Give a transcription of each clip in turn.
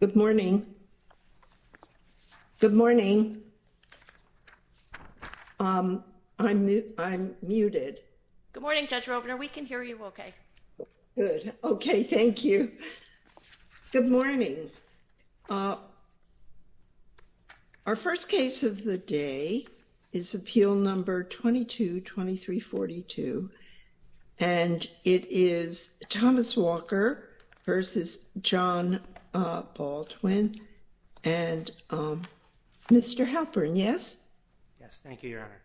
Good morning. Good morning. I'm I'm muted. Good morning, Judge Rovner. We can hear you okay. Good. Okay. Thank you. Good morning. Our first case of the day is Appeal Number 22-2342, and it is Thomas Walker v. John Baldwin and Mr. Halpern. Yes. Yes. Thank you, Your Honor.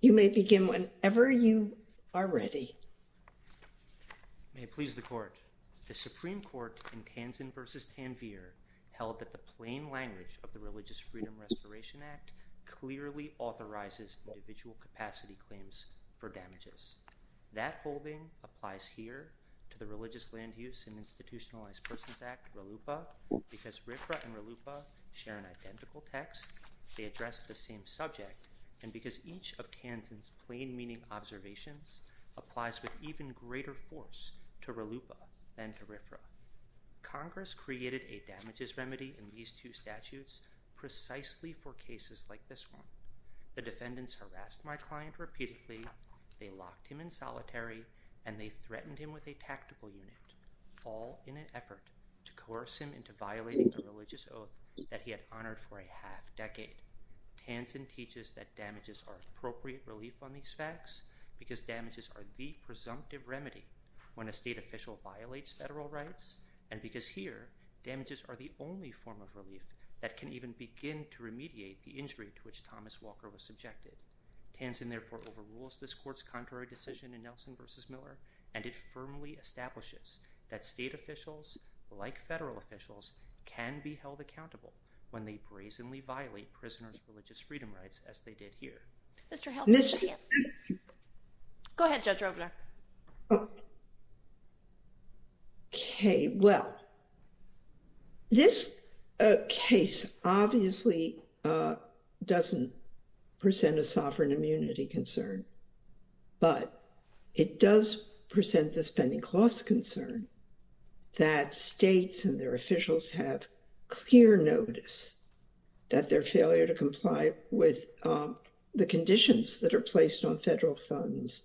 You may begin whenever you are ready. May it please the court. The Supreme Court in Tanzan v. Tanvir held that the plain language of the Religious Freedom Respiration Act clearly authorizes individual capacity claims for damages. That holding applies here to the Religious Land Use and Institutionalized Persons Act, RLUIPA, because RFRA and RLUIPA share an identical text, they address the same subject, and because each of Tanzan's plain meaning observations applies with even greater force to RLUIPA than to RFRA. Congress created a damages remedy in these two statutes precisely for cases like this one. The defendants harassed my client repeatedly, they locked him in solitary, and they threatened him with a tactical unit, all in an effort to coerce him into violating a religious oath that he had honored for a half decade. Tanzan teaches that damages are appropriate relief on these facts because damages are the presumptive remedy when a state official violates federal rights, and because here, damages are the only form of relief that can even begin to remediate the injury to which Thomas Walker was subjected. Tanzan therefore overrules this court's contrary decision in Nelson v. Miller, and it firmly establishes that state officials, like federal officials, can be held accountable when they brazenly violate prisoners' religious freedom rights as they did here. Mr. Heldman, Tanzan. Go ahead, Judge Robler. Okay, well, this case obviously doesn't present a sovereign immunity concern. But it does present the spending cost concern that states and their officials have clear notice that their failure to comply with the conditions that are placed on federal funds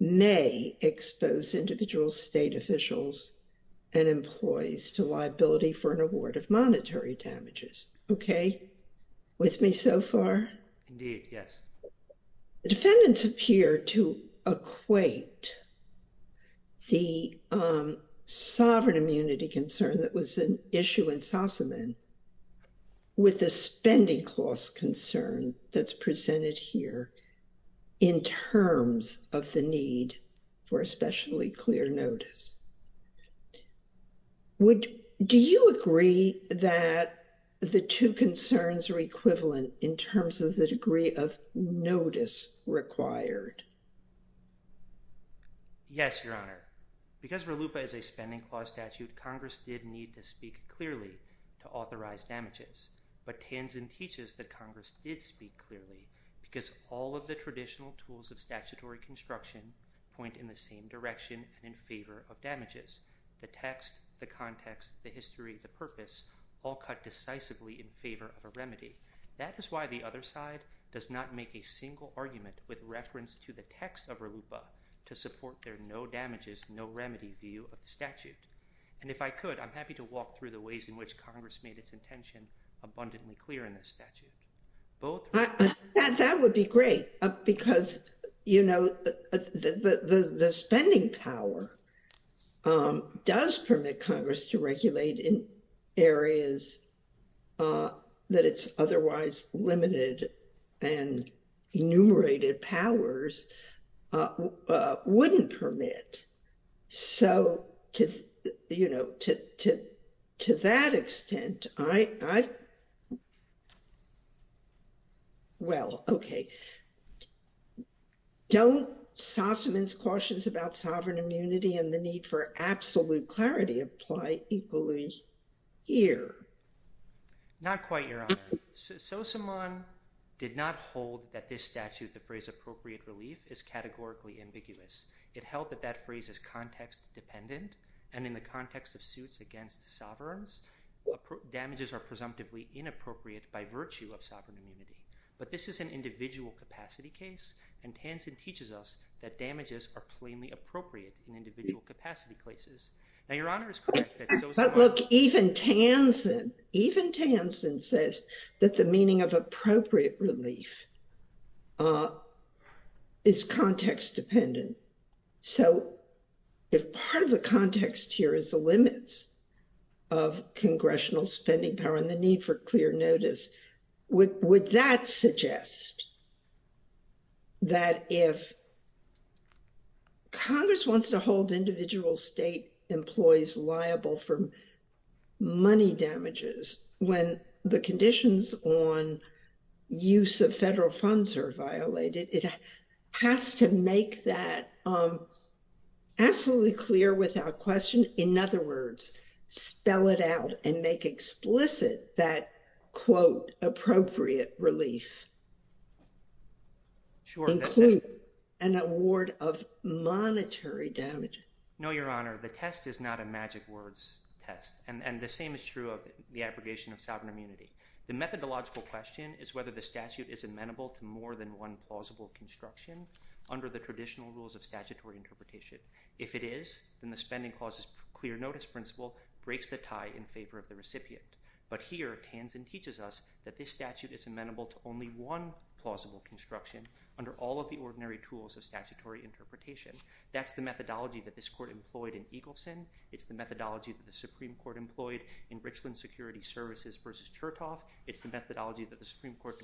may expose individual state officials and employees to liability for an award of monetary damages. Okay? With me so far? Indeed, yes. Defendants appear to equate the sovereign immunity concern that was an issue in Sossaman with the spending cost concern that's presented here in terms of the need for especially clear notice. Do you agree that the two concerns are equivalent in terms of the degree of notice required? Yes, Your Honor. Because RLUIPA is a spending clause statute, Congress did need to speak clearly to authorize damages. But Tanzan teaches that Congress did speak clearly because all of the traditional tools of statutory construction point in the same direction and in favor of damages. The text, the context, the history, the purpose all cut decisively in favor of a remedy. That is why the other side does not make a single argument with reference to the text of RLUIPA to support their no damages, no remedy view of the statute. And if I could, I'm happy to walk through the ways in which Congress made its intention abundantly clear in the statute. That would be great because, you know, the spending power does permit Congress to regulate in areas that it's otherwise limited and enumerated powers wouldn't permit. So, you know, to that extent, I, well, okay. Don't Sossaman's cautions about sovereign immunity and the need for absolute clarity apply equally here? Not quite, Your Honor. Sossaman did not hold that this statute, the phrase appropriate relief, is categorically ambiguous. It held that that phrase is context dependent. And in the context of suits against sovereigns, damages are presumptively inappropriate by virtue of sovereign immunity. But this is an individual capacity case. And Tansen teaches us that damages are plainly appropriate in individual capacity cases. Now, Your Honor is correct. But look, even Tansen, even Tansen says that the meaning of appropriate relief is context dependent. So if part of the context here is the limits of congressional spending power and the need for clear notice, would that suggest that if Congress wants to hold individual state employees liable for money damages, when the conditions on use of federal funds are violated, it has to make that absolutely clear without question. In other words, spell it out and make explicit that, quote, appropriate relief, include an award of monetary damages. No, Your Honor. The test is not a magic words test. And the same is true of the abrogation of sovereign immunity. The methodological question is whether the statute is amenable to more than one plausible construction under the traditional rules of statutory interpretation. If it is, then the spending clause's clear notice principle breaks the tie in favor of the recipient. But here, Tansen teaches us that this statute is amenable to only one plausible construction under all of the ordinary tools of statutory interpretation. That's the methodology that this court employed in Eagleson. It's the methodology that the Supreme Court employed in Richland Security Services versus Chertoff. It's the methodology that the Supreme Court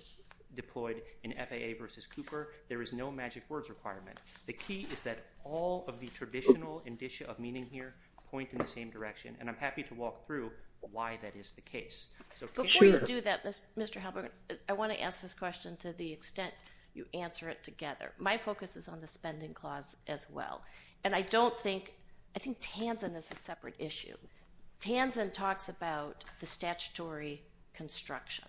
deployed in FAA versus Cooper. There is no magic words requirement. The key is that all of the traditional indicia of meaning here point in the same direction. And I'm happy to walk through why that is the case. Before you do that, Mr. Halberg, I want to ask this question to the extent you answer it together. My focus is on the spending clause as well. And I don't think ‑‑ I think Tansen is a separate issue. Tansen talks about the statutory construction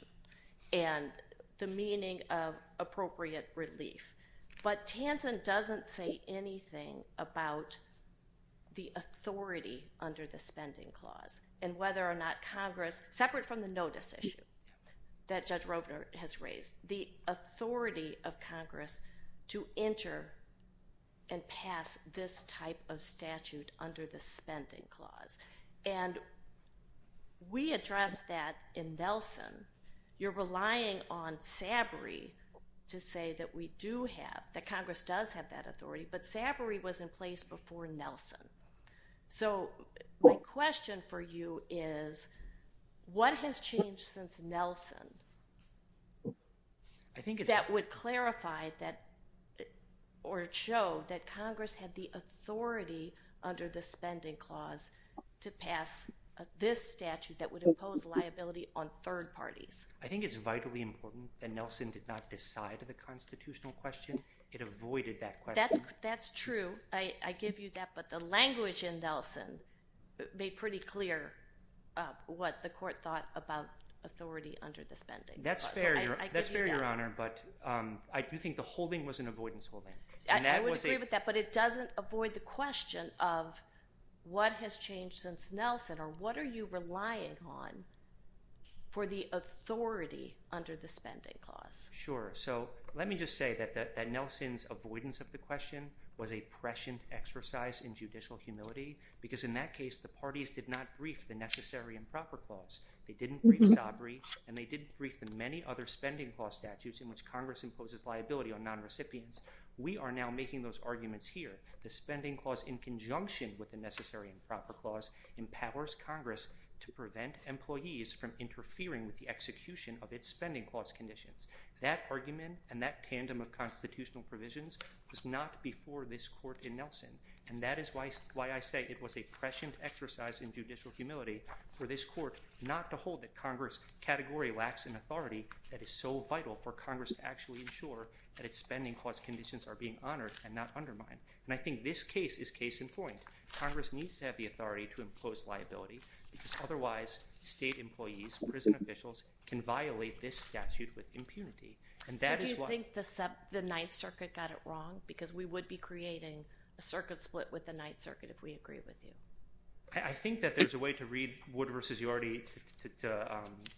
and the meaning of appropriate relief. But Tansen doesn't say anything about the authority under the spending clause and whether or not Congress, separate from the notice issue that Judge Rovner has raised, the authority of Congress to enter and pass this type of statute under the spending clause. And we addressed that in Nelson. You're relying on Sabury to say that we do have ‑‑ that Congress does have that authority. But Sabury was in place before Nelson. So my question for you is, what has changed since Nelson that would clarify that or show that Congress had the authority under the spending clause to pass this statute that would impose liability on third parties? I think it's vitally important that Nelson did not decide on the constitutional question. It avoided that question. That's true. I give you that. But the language in Nelson made pretty clear what the court thought about authority under the spending clause. That's fair, Your Honor. But I do think the holding was an avoidance holding. I would agree with that. But it doesn't avoid the question of what has changed since Nelson or what are you relying on for the authority under the spending clause? Sure. So let me just say that Nelson's avoidance of the question was a prescient exercise in judicial humility because in that case the parties did not brief the necessary and proper clause. They didn't brief Sabury and they didn't brief the many other spending clause statutes in which Congress imposes liability on nonrecipients. We are now making those arguments here. The spending clause in conjunction with the necessary and proper clause to prevent employees from interfering with the execution of its spending clause conditions. That argument and that tandem of constitutional provisions was not before this court in Nelson. And that is why I say it was a prescient exercise in judicial humility for this court not to hold that Congress' category lacks an authority that is so vital for Congress to actually ensure that its spending clause conditions are being honored and not undermined. And I think this case is case in point. Congress needs to have the authority to impose liability because otherwise state employees, prison officials can violate this statute with impunity. So do you think the Ninth Circuit got it wrong because we would be creating a circuit split with the Ninth Circuit if we agree with you? I think that there's a way to read Wood v. Yorty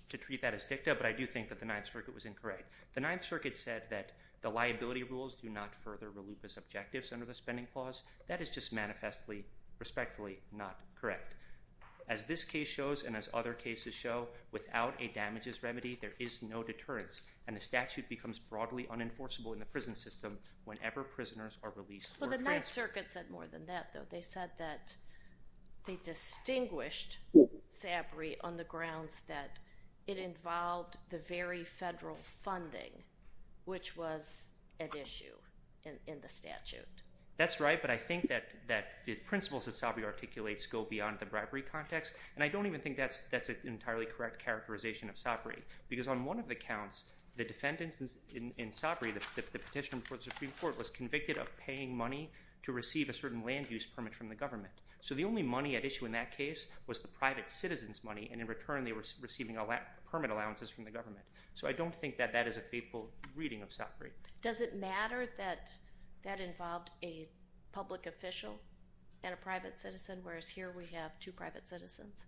to treat that as dicta but I do think that the Ninth Circuit was incorrect. The Ninth Circuit said that the liability rules do not further reluctance objectives under the spending clause. That is just manifestly, respectfully not correct. As this case shows and as other cases show, without a damages remedy, there is no deterrence and the statute becomes broadly unenforceable in the prison system whenever prisoners are released. Well, the Ninth Circuit said more than that though. They said that they distinguished SABRI on the grounds that it involved the very federal funding which was at issue in the statute. That's right, but I think that the principles that SABRI articulates go beyond the bribery context and I don't even think that's an entirely correct characterization of SABRI because on one of the counts, the defendant in SABRI, the petition before the Supreme Court, was convicted of paying money to receive a certain land use permit from the government. So the only money at issue in that case was the private citizen's money and in return they were receiving permit allowances from the government. Does it matter that that involved a public official and a private citizen whereas here we have two private citizens?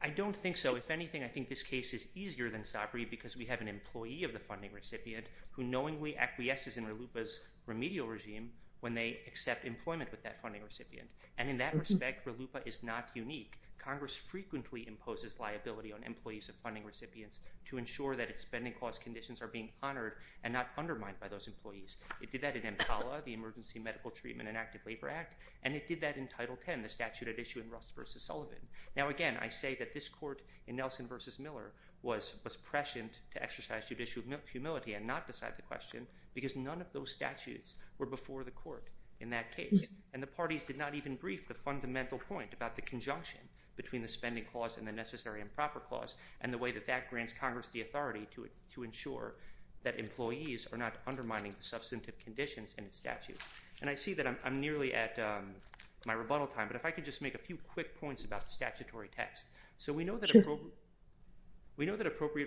I don't think so. If anything, I think this case is easier than SABRI because we have an employee of the funding recipient who knowingly acquiesces in RLUIPA's remedial regime when they accept employment with that funding recipient and in that respect, RLUIPA is not unique. Congress frequently imposes liability on employees of funding recipients to ensure that its spending clause conditions are being honored and not undermined by those employees. It did that in EMTALA, the Emergency Medical Treatment and Active Labor Act, and it did that in Title X, the statute at issue in Russ v. Sullivan. Now again, I say that this court in Nelson v. Miller was prescient to exercise judicial humility and not decide the question because none of those statutes were before the court in that case and the parties did not even brief the fundamental point about the conjunction between the spending clause and the necessary and proper clause and the way that that grants Congress the authority to ensure that employees are not undermining the substantive conditions in the statute. And I see that I'm nearly at my rebuttal time, but if I could just make a few quick points about the statutory text. So we know that appropriate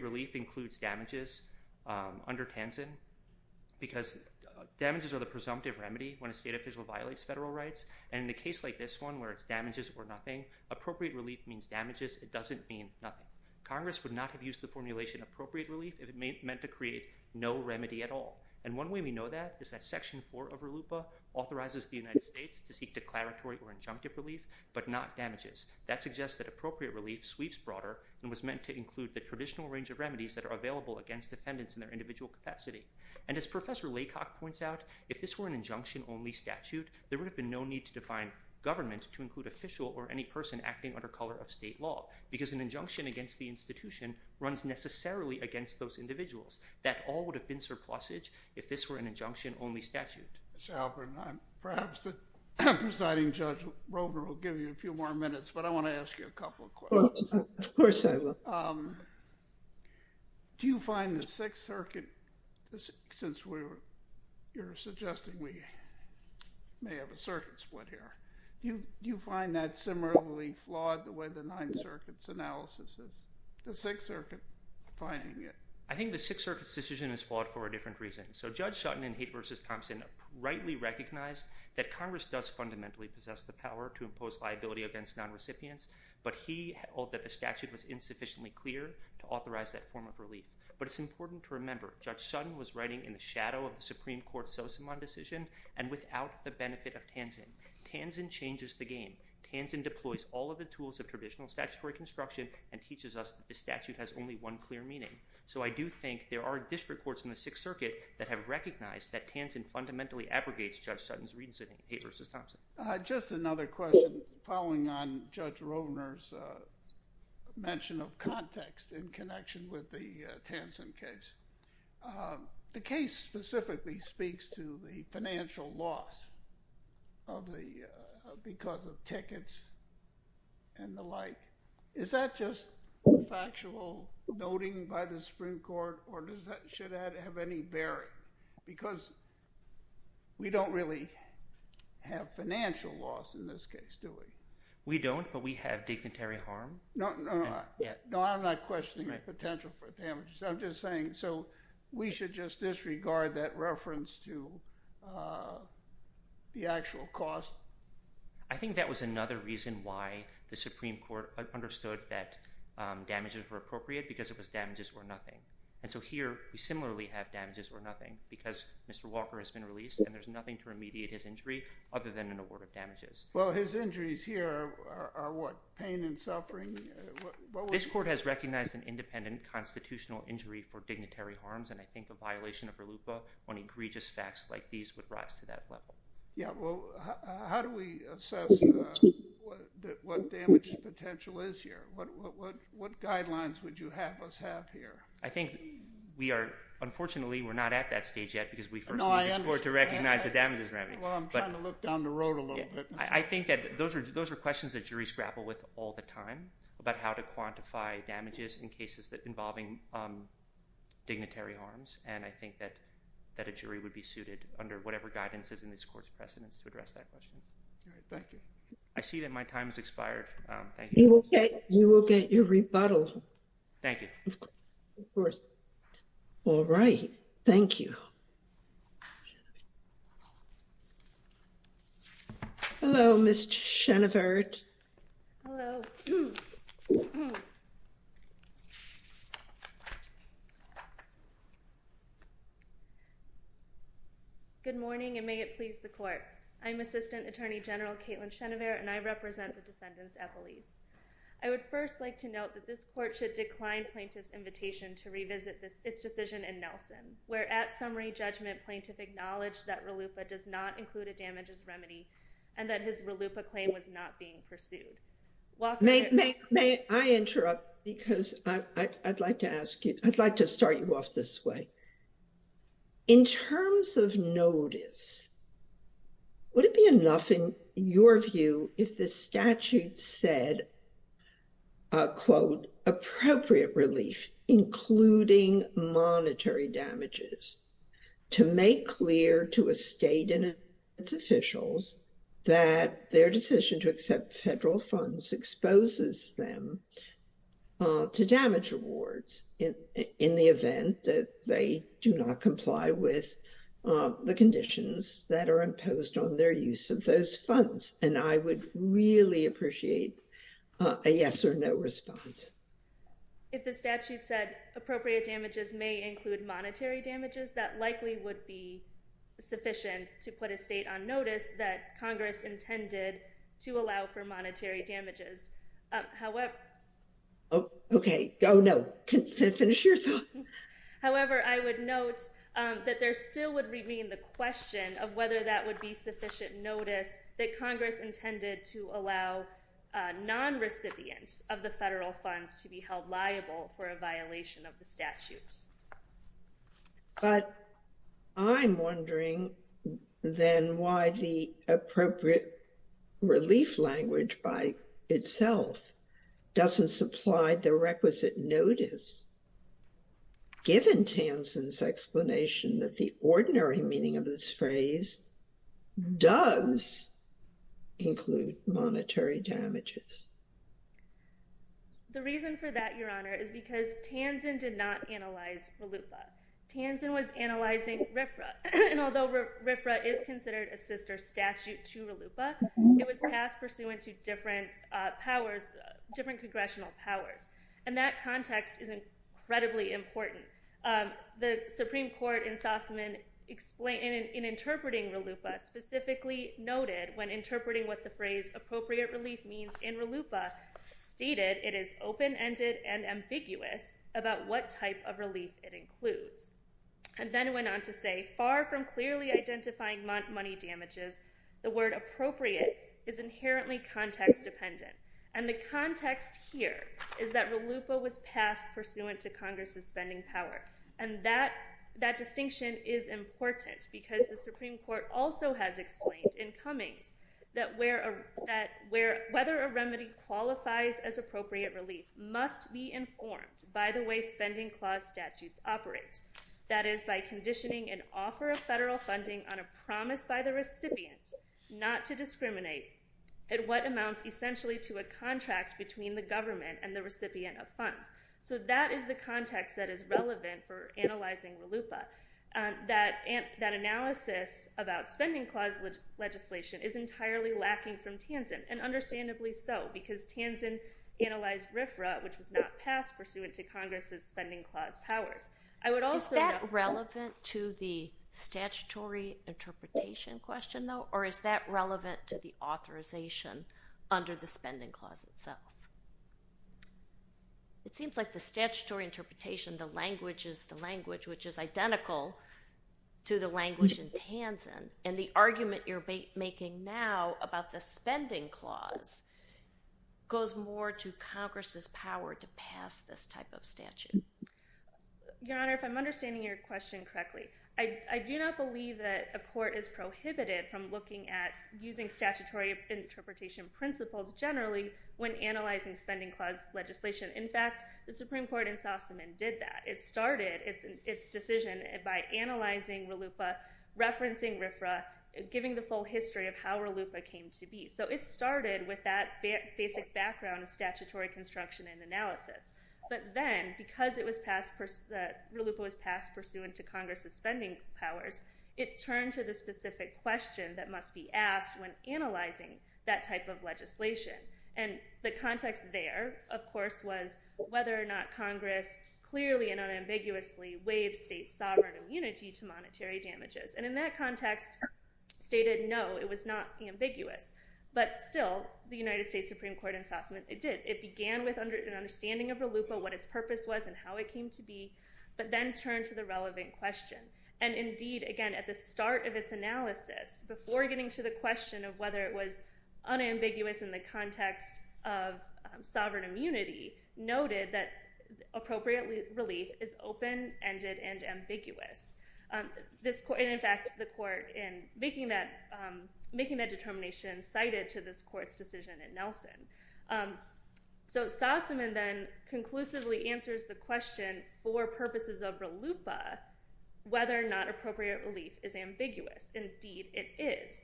relief includes damages under TANZEN because damages are the presumptive remedy when a state official violates federal rights and in a case like this one where it's damages or nothing, appropriate relief means damages. It doesn't mean nothing. Congress would not have used the formulation appropriate relief if it meant to create no remedy at all. And one way we know that is that Section 4 of RLUIPA authorizes the United States to seek declaratory or injunctive relief but not damages. That suggests that appropriate relief sweeps broader and was meant to include the traditional range of remedies that are available against defendants in their individual capacity. And as Professor Laycock points out, if this were an injunction-only statute, there would have been no need to define government to include official or any person acting under color of state law because an injunction against the institution runs necessarily against those individuals. That all would have been surplusage if this were an injunction-only statute. Mr. Halpern, perhaps the presiding judge, Roever, will give you a few more minutes, but I want to ask you a couple of questions. Of course, I will. Do you find the Sixth Circuit, since you're suggesting we may have a circuit split here, do you find that similarly flawed the way the Ninth Circuit's analysis is? The Sixth Circuit finding it. I think the Sixth Circuit's decision is flawed for a different reason. So Judge Sutton in Haight v. Thompson rightly recognized that Congress does fundamentally possess the power to impose liability against non-recipients, but he held that the statute was insufficiently clear to authorize that form of relief. But it's important to remember Judge Sutton was writing in the shadow of the Supreme Court's Sosimon decision and without the benefit of Tanzen. Tanzen changes the game. Tanzen deploys all of the tools of traditional statutory construction and teaches us that the statute has only one clear meaning. So I do think there are district courts in the Sixth Circuit that have recognized Just another question following on Judge Rovner's mention of context in connection with the Tanzen case. The case specifically speaks to the financial loss because of tickets and the like. Is that just factual noting by the Supreme Court or should that have any bearing? Because we don't really have financial loss in this case, do we? We don't, but we have dignitary harm. No, I'm not questioning the potential for damages. I'm just saying we should just disregard that reference to the actual cost. I think that was another reason why the Supreme Court understood that damages were appropriate because it was damages were nothing. And so here we similarly have damages were nothing because Mr. Walker has been released and there's nothing to remediate his injury other than an award of damages. Well, his injuries here are what, pain and suffering? This court has recognized an independent constitutional injury for dignitary harms and I think a violation of RLUPA on egregious facts like these would rise to that level. Yeah, well, how do we assess what damage potential is here? What guidelines would you have us have here? I think we are, unfortunately, we're not at that stage yet because we first need the court to recognize the damages remedy. Well, I'm trying to look down the road a little bit. I think that those are questions that juries grapple with all the time about how to quantify damages in cases involving dignitary harms and I think that a jury would be suited under whatever guidances in this court's precedence to address that question. All right, thank you. I see that my time has expired. Thank you. You will get your rebuttal. Thank you. Of course. All right, thank you. Hello, Ms. Schoenevert. Hello. Good morning and may it please the court. I'm Assistant Attorney General Caitlin Schoenevert and I represent the defendants' appellees. I would first like to note that this court should decline plaintiff's invitation to revisit its decision in Nelson where at summary judgment plaintiff acknowledged that RLUIPA does not include a damages remedy and that his RLUIPA claim was not being pursued. May I interrupt because I'd like to ask you, I'd like to start you off this way. In terms of notice, would it be enough in your view if the statute said, quote, appropriate relief including monetary damages to make clear to a state and its officials that their decision to accept federal funds exposes them to damage rewards in the event that they do not comply with the conditions that are imposed on their use of those funds? And I would really appreciate a yes or no response. If the statute said appropriate damages may include monetary damages, that likely would be sufficient to put a state on notice that Congress intended to allow for monetary damages. However, I would note that there still would remain the question of whether that would be sufficient notice that Congress intended to allow non-recipients of the federal funds to be held liable for a violation of the statute. But I'm wondering then why the appropriate relief language by itself doesn't supply the requisite notice given Tansen's explanation that the ordinary meaning of this phrase does include monetary damages. The reason for that, Your Honor, is because Tansen did not analyze RLUIPA. Tansen was analyzing RFRA. And although RFRA is considered a sister statute to RLUIPA, it was passed pursuant to different congressional powers. And that context is incredibly important. The Supreme Court in interpreting RLUIPA specifically noted when RLUIPA stated it is open-ended and ambiguous about what type of relief it includes, and then went on to say, far from clearly identifying money damages, the word appropriate is inherently context-dependent. And the context here is that RLUIPA was passed pursuant to Congress's spending power. And that distinction is important because the Supreme Court also has explained in Cummings that whether a remedy qualifies as appropriate relief must be informed by the way spending clause statutes operate, that is by conditioning an offer of federal funding on a promise by the recipient not to discriminate at what amounts essentially to a contract between the government and the recipient of funds. So that is the context that is relevant for analyzing RLUIPA. That analysis about spending clause legislation is entirely lacking from Tanzen, and understandably so, because Tanzen analyzed RFRA, which was not passed pursuant to Congress's spending clause powers. Is that relevant to the statutory interpretation question, though, or is that relevant to the authorization under the spending clause itself? It seems like the statutory interpretation, the language is the language, which is identical to the language in Tanzen, and the argument you're making now about the spending clause goes more to Congress's power to pass this type of statute. Your Honor, if I'm understanding your question correctly, I do not believe that a court is prohibited from looking at using statutory interpretation principles generally when analyzing spending clause legislation. In fact, the Supreme Court in Sossaman did that. It started its decision by analyzing RLUIPA, referencing RFRA, giving the full history of how RLUIPA came to be. So it started with that basic background of statutory construction and analysis, but then because RLUIPA was passed pursuant to Congress's spending powers, it turned to the specific question that must be asked when analyzing that type of legislation, and the context there, of course, was whether or not Congress clearly and unambiguously waived state sovereign immunity to monetary damages. And in that context, stated no, it was not ambiguous. But still, the United States Supreme Court in Sossaman, it did. It began with an understanding of RLUIPA, what its purpose was, and how it came to be, but then turned to the relevant question. And indeed, again, at the start of its analysis, sovereign immunity noted that appropriate relief is open-ended and ambiguous. And in fact, the court in making that determination cited to this court's decision in Nelson. So Sossaman then conclusively answers the question for purposes of RLUIPA whether or not appropriate relief is ambiguous. Indeed, it is.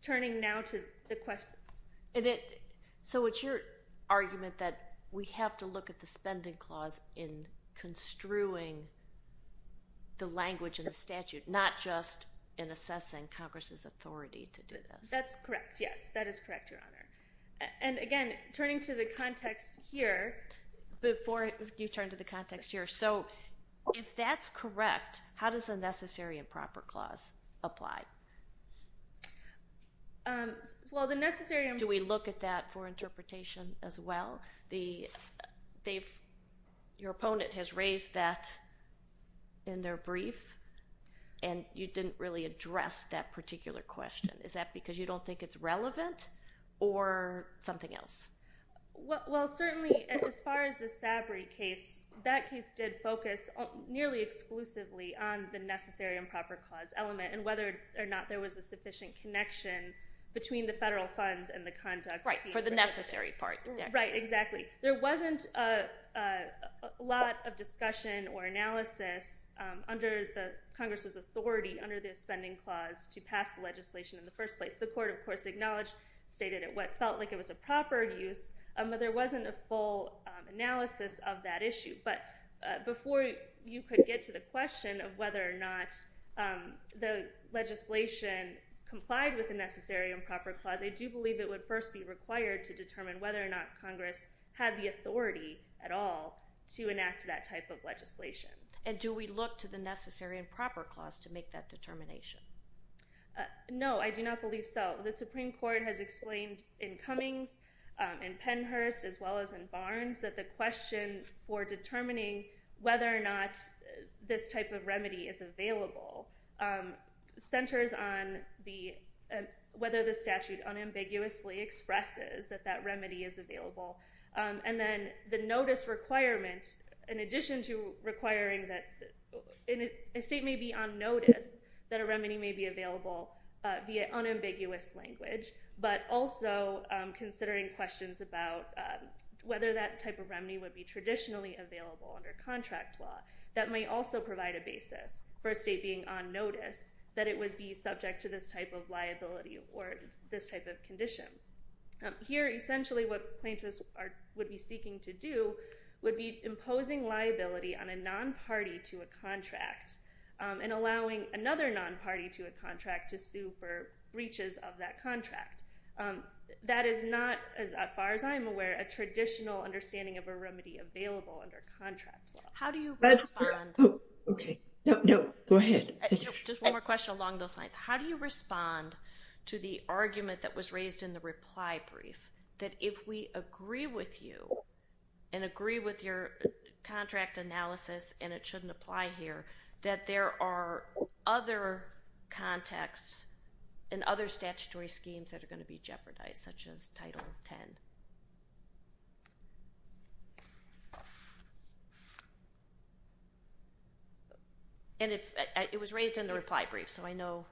Turning now to the questions. So it's your argument that we have to look at the spending clause in construing the language of the statute, not just in assessing Congress's authority to do this? That's correct, yes. That is correct, Your Honor. And again, turning to the context here. Before you turn to the context here, so if that's correct, how does the necessary and proper clause apply? Well, the necessary and proper clause. Do we look at that for interpretation as well? Your opponent has raised that in their brief, and you didn't really address that particular question. Is that because you don't think it's relevant or something else? Well, certainly as far as the Sabry case, that case did focus nearly exclusively on the necessary and proper clause element and whether or not there was a sufficient connection between the federal funds and the conduct. Right, for the necessary part. Right, exactly. There wasn't a lot of discussion or analysis under Congress's authority under the spending clause to pass the legislation in the first place. The court, of course, acknowledged, stated it felt like it was a proper use, but there wasn't a full analysis of that issue. But before you could get to the question of whether or not the legislation complied with the necessary and proper clause, I do believe it would first be required to determine whether or not Congress had the authority at all to enact that type of legislation. And do we look to the necessary and proper clause to make that determination? No, I do not believe so. The Supreme Court has explained in Cummings, in Pennhurst, as well as in Barnes that the question for determining whether or not this type of remedy is available centers on whether the statute unambiguously expresses that that remedy is available. And then the notice requirement, in addition to requiring that a state may be on notice that a remedy may be available via unambiguous language, but also considering questions about whether that type of remedy would be traditionally available under contract law. That may also provide a basis for a state being on notice that it would be subject to this type of liability or this type of condition. Here, essentially what plaintiffs would be seeking to do would be imposing liability on a non-party to a contract and allowing another non-party to a contract to sue for breaches of that contract. That is not, as far as I'm aware, a traditional understanding of a remedy available under contract law. How do you respond to the argument that was raised in the reply brief, that if we agree with you and agree with your contract analysis and it shouldn't apply here, that there are other contexts and other statutory schemes that are going to be jeopardized, such as Title X? It was raised in the reply brief, so I know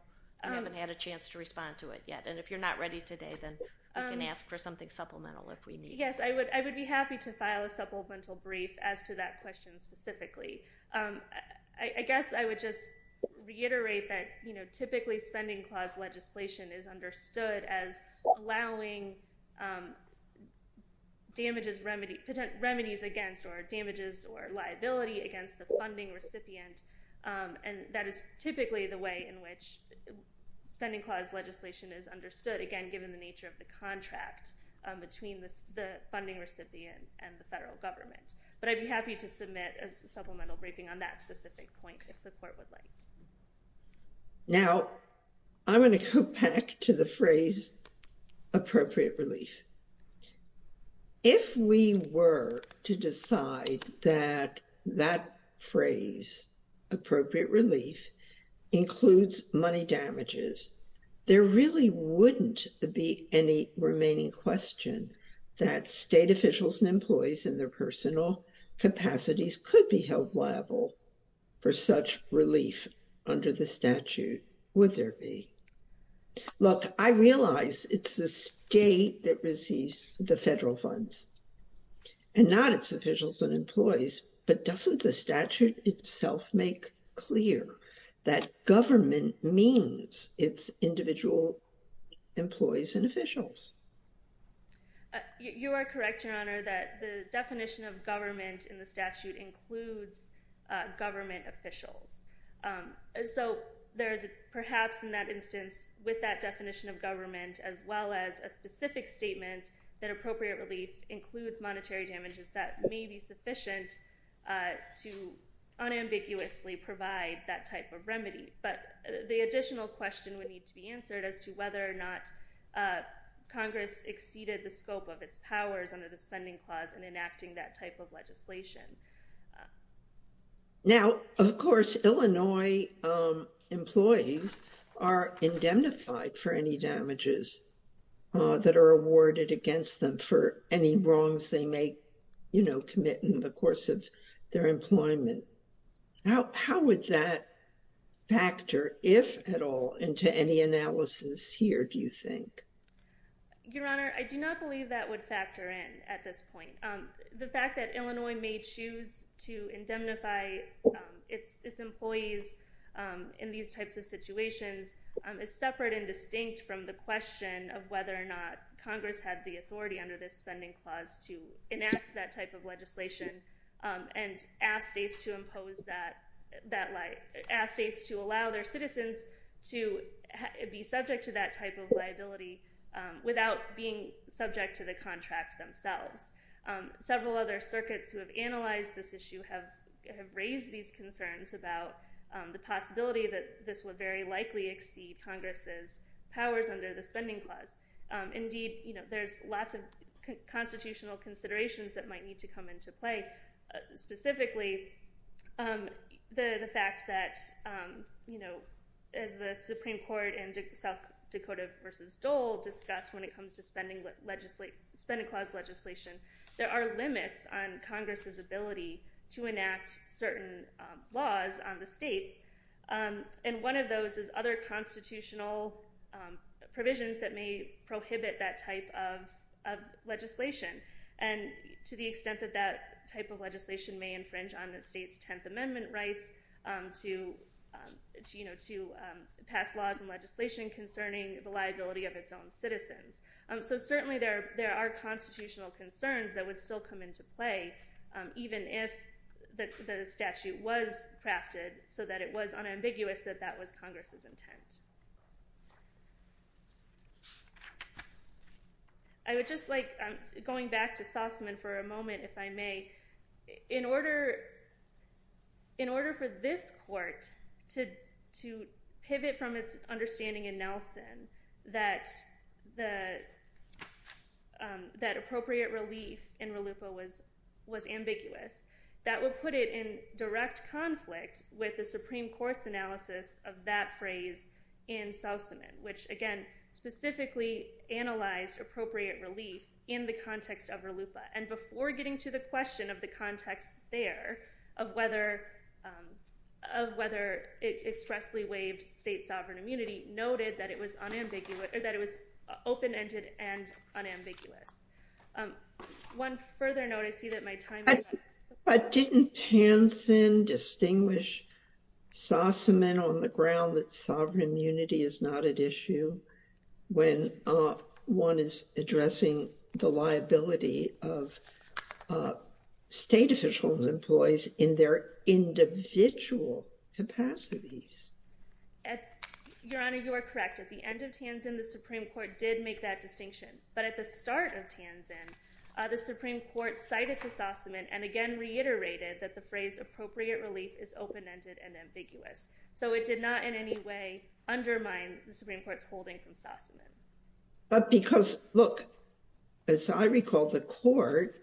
I haven't had a chance to respond to it yet. If you're not ready today, then I can ask for something supplemental if we need it. Yes, I would be happy to file a supplemental brief as to that question specifically. I guess I would just reiterate that typically spending clause legislation is understood as allowing damages, remedies against or damages or liability against the funding recipient. And that is typically the way in which spending clause legislation is understood, again, given the nature of the contract between the funding recipient and the federal government. But I'd be happy to submit a supplemental briefing on that specific point, if the court would like. Now, I'm going to go back to the phrase appropriate relief. If we were to decide that that phrase, appropriate relief includes money damages, there really wouldn't be any remaining question that state officials and employees in their personal capacities could be held liable for such relief under the statute, would there be? Look, I realize it's the state that receives the federal funds and not its officials and employees, but doesn't the statute itself make clear that government means it's individual employees and officials? You are correct, Your Honor, that the definition of government in the statute includes government officials. So there is perhaps in that instance, with that definition of government, as well as a specific statement that appropriate relief includes monetary damages, that may be sufficient to unambiguously provide that type of remedy. But the additional question would need to be answered as to whether or not Congress exceeded the scope of its powers under the spending clause and enacting that type of legislation. Now, of course, Illinois employees are indemnified for any damages that are awarded against them for any wrongs they may commit in the course of their employment. How would that factor, if at all, into any analysis here, do you think? Your Honor, I do not believe that would factor in at this point. The fact that Illinois may choose to indemnify its employees in these types of situations is separate and distinct from the question of whether or not Congress had the authority under this spending clause to enact that type of legislation and ask states to impose that, ask states to allow their citizens to be subject to that type of liability without being subject to the contract themselves. Several other circuits who have analyzed this issue have raised these concerns about the possibility that this would very likely exceed Congress's powers under the spending clause. Indeed, you know, there's lots of constitutional considerations that might need to come into play. Specifically, the fact that, you know, as the Supreme Court in South Dakota versus Dole discussed when it comes to our limits on Congress's ability to enact certain laws on the states. And one of those is other constitutional provisions that may prohibit that type of legislation. And to the extent that that type of legislation may infringe on the state's 10th Amendment rights to, you know, to pass laws and legislation concerning the liability of its own citizens. So certainly there are constitutional concerns that would still come into play, even if the statute was crafted so that it was unambiguous that that was Congress's intent. I would just like, going back to Sausman for a moment, if I may, in order, in order for this court to pivot from its understanding in Nelson that the that appropriate relief in RLUIPA was, was ambiguous, that will put it in direct conflict with the Supreme Court's analysis of that phrase in Sausman, which again specifically analyzed appropriate relief in the context of RLUIPA. And before getting to the question of the context there of whether, of whether it expressly waived state sovereign immunity noted that it was open-ended and unambiguous. One further note, I see that my time is up. Didn't Tansin distinguish Sausman on the ground that sovereign immunity is not at issue when one is addressing the liability of state officials, employees in their individual capacities? Your Honor, you are correct. At the end of Tansin, the Supreme Court did make that distinction. But at the start of Tansin, the Supreme Court cited to Sausman and again reiterated that the phrase appropriate relief is open-ended and ambiguous. So it did not in any way undermine the Supreme Court's holding from Sausman. But because look, as I recall, the court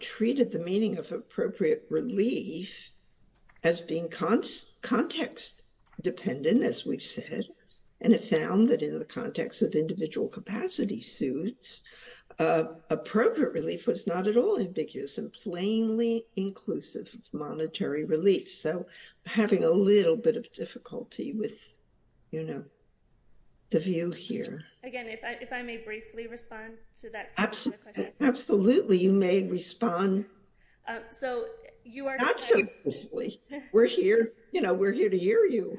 treated the meaning of appropriate relief as being context dependent, as we've said, and it found that in the context of individual capacity suits, appropriate relief was not at all ambiguous and plainly inclusive of monetary relief. So having a little bit of difficulty with, you know, the view here. Again, if I may briefly respond to that. Absolutely. You may respond. So you are. We're here. You know, we're here to hear you.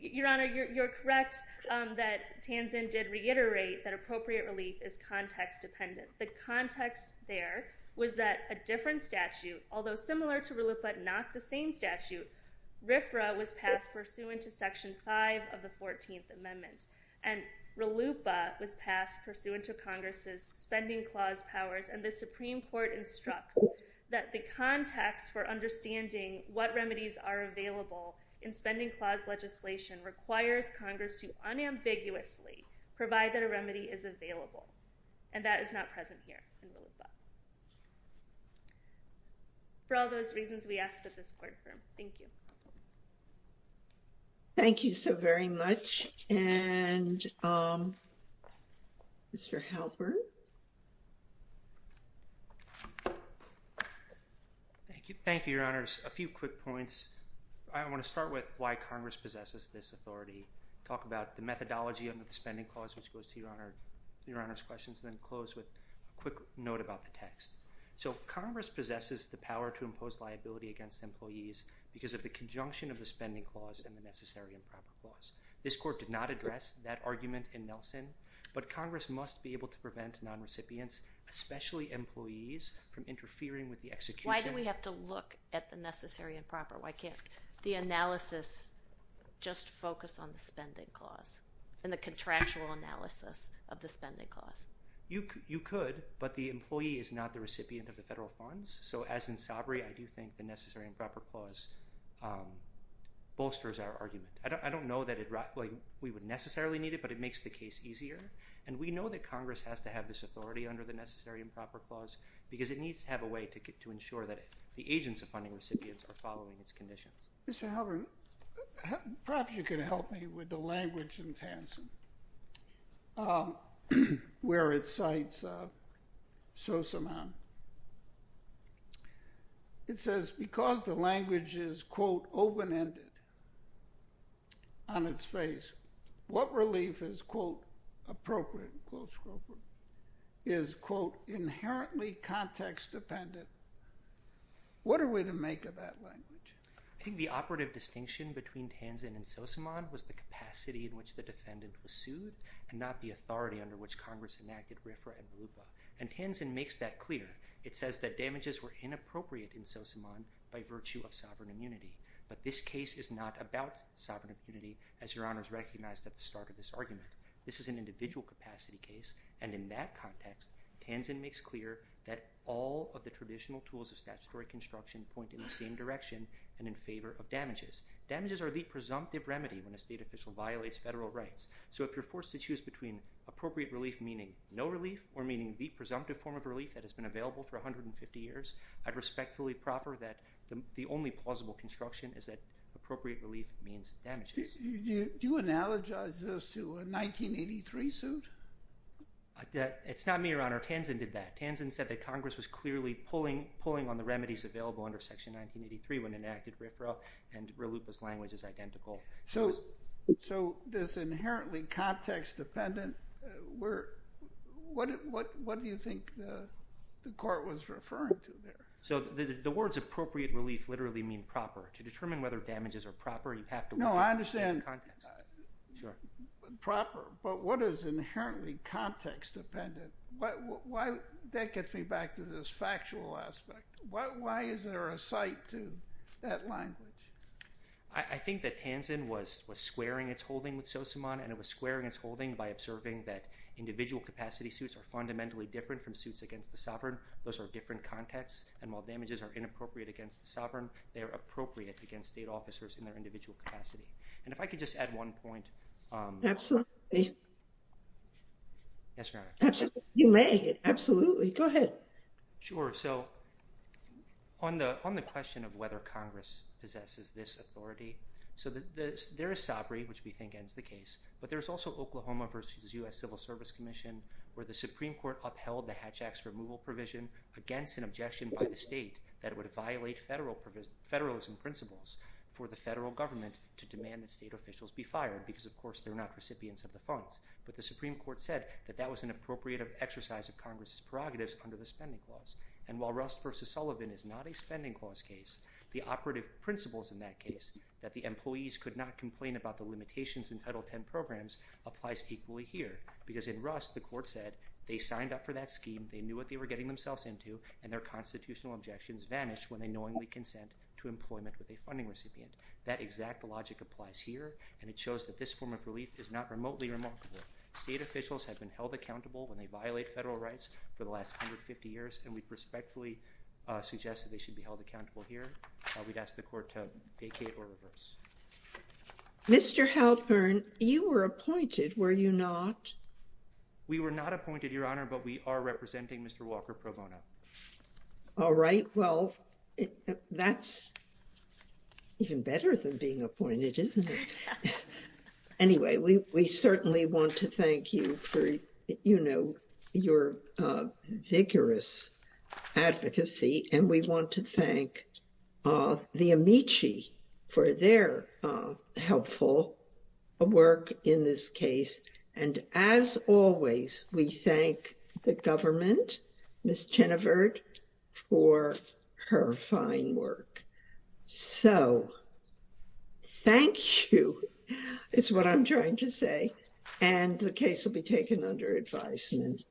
Your Honor, you're correct that Tansin did reiterate that appropriate relief is context dependent. The context there was that a different statute, although similar to RLUIPA, but not the same statute, RFRA was passed pursuant to section five of the 14th amendment and RLUIPA was passed pursuant to Congress's spending clause powers. And the Supreme court instructs that the context for understanding what remedies are available in spending clause legislation requires Congress to unambiguously provide that a remedy is available. And that is not present here in RLUIPA. For all those reasons, we ask that this courtroom. Thank you. Thank you so very much. And Mr. Halpern. Thank you. Thank you, your honors. A few quick points. I want to start with why Congress possesses this authority. Talk about the methodology of the spending clause, which goes to your honor, your honors questions, then close with a quick note about the text. So Congress possesses the power to impose liability against employees because of the conjunction of the spending clause and the necessary improper clause. This court did not address that argument in Nelson, but Congress must be able to prevent non-recipients, especially employees from interfering with the execution. Why do we have to look at the necessary and proper? Why can't the analysis just focus on the spending clause and the contractual analysis of the spending clause? You could, but the employee is not the recipient of the federal funds. So as in sobriety, I do think the necessary and proper clause bolsters our argument. I don't, I don't know that we would necessarily need it, but it makes the case easier. And we know that Congress has to have this authority under the necessary and proper clause, because it needs to have a way to get to ensure that the agents of funding recipients are following its conditions. Mr. Howard, perhaps you can help me with the language in Tansin, where it cites, so somehow it says, because the language is quote, open ended on its face, what relief is quote, appropriate. Close. Is quote, inherently context dependent. What are we to make of that language? I think the operative distinction between Tansin and Sosamon was the capacity in which the defendant was sued and not the authority under which Congress enacted RFRA and RUPA. And Tansin makes that clear. It says that damages were inappropriate in Sosamon by virtue of sovereign immunity. But this case is not about sovereign immunity. As your honors recognized at the start of this argument, this is an individual capacity case. And in that context, Tansin makes clear that all of the traditional tools of statutory construction point in the same direction and in favor of damages. Damages are the presumptive remedy when a state official violates federal rights. So if you're forced to choose between appropriate relief, meaning no relief or meaning the presumptive form of relief that has been available for 150 years, I'd respectfully proffer that the only plausible construction is that appropriate relief means damages. Do you analogize this to a 1983 suit? It's not me, your honor. Tansin did that. Tansin said that Congress was clearly pulling on the remedies available under section 1983 when enacted RFRA and RUPA's language is identical. So this inherently context dependent, what do you think the court was referring to there? So the words appropriate relief literally mean proper. To determine whether damages are proper, you have to look at- No, I understand proper, but what is inherently context dependent? That gets me back to this factual aspect. Why is there a site to that language? I think that Tansin was squaring its holding with Sosomon and it was squaring its holding by observing that individual capacity suits are fundamentally different from suits against the sovereign. Those are different contexts and while damages are inappropriate against the sovereign, they are appropriate against state officers in their individual capacity. And if I could just add one point- Absolutely. Yes, your honor. You may, absolutely. Go ahead. Sure. So on the question of whether Congress possesses this authority, so there is SABRI, which we think ends the case, but there's also Oklahoma versus U.S. Civil Service Commission where the Supreme Court upheld the Hatch Act's removal provision against an objection by the state that would violate federalism principles for the federal government to demand that state officials be fired because, of course, they're not recipients of the funds. But the Supreme Court said that that was an appropriate exercise of Congress's prerogatives under the spending clause. And while Rust versus Sullivan is not a spending clause case, the operative principles in that case, that the employees could not complain about the limitations in Title X programs, applies equally here. Because in Rust, the court said they signed up for that scheme, they knew what they were getting themselves into, and their constitutional objections vanished when they knowingly consent to employment with a funding recipient. That exact logic applies here, and it shows that this form of relief is not remotely remarkable. State officials have been held accountable when they violate federal rights for the last 150 years, and we respectfully suggest that they should be held accountable here. We'd ask the court to vacate or reverse. Mr. Halpern, you were appointed, were you not? We were not appointed, Your Honor, but we are representing Mr. Walker Pro Bono. All right. Well, that's even better than being appointed, isn't it? Anyway, we certainly want to thank you for, you know, your vigorous advocacy, and we want to thank the Amici for their helpful work in this case. And as always, we thank the government, Ms. Chenevert, for her fine work. So, thank you, is what I'm trying to say, and the case will be taken under advisement.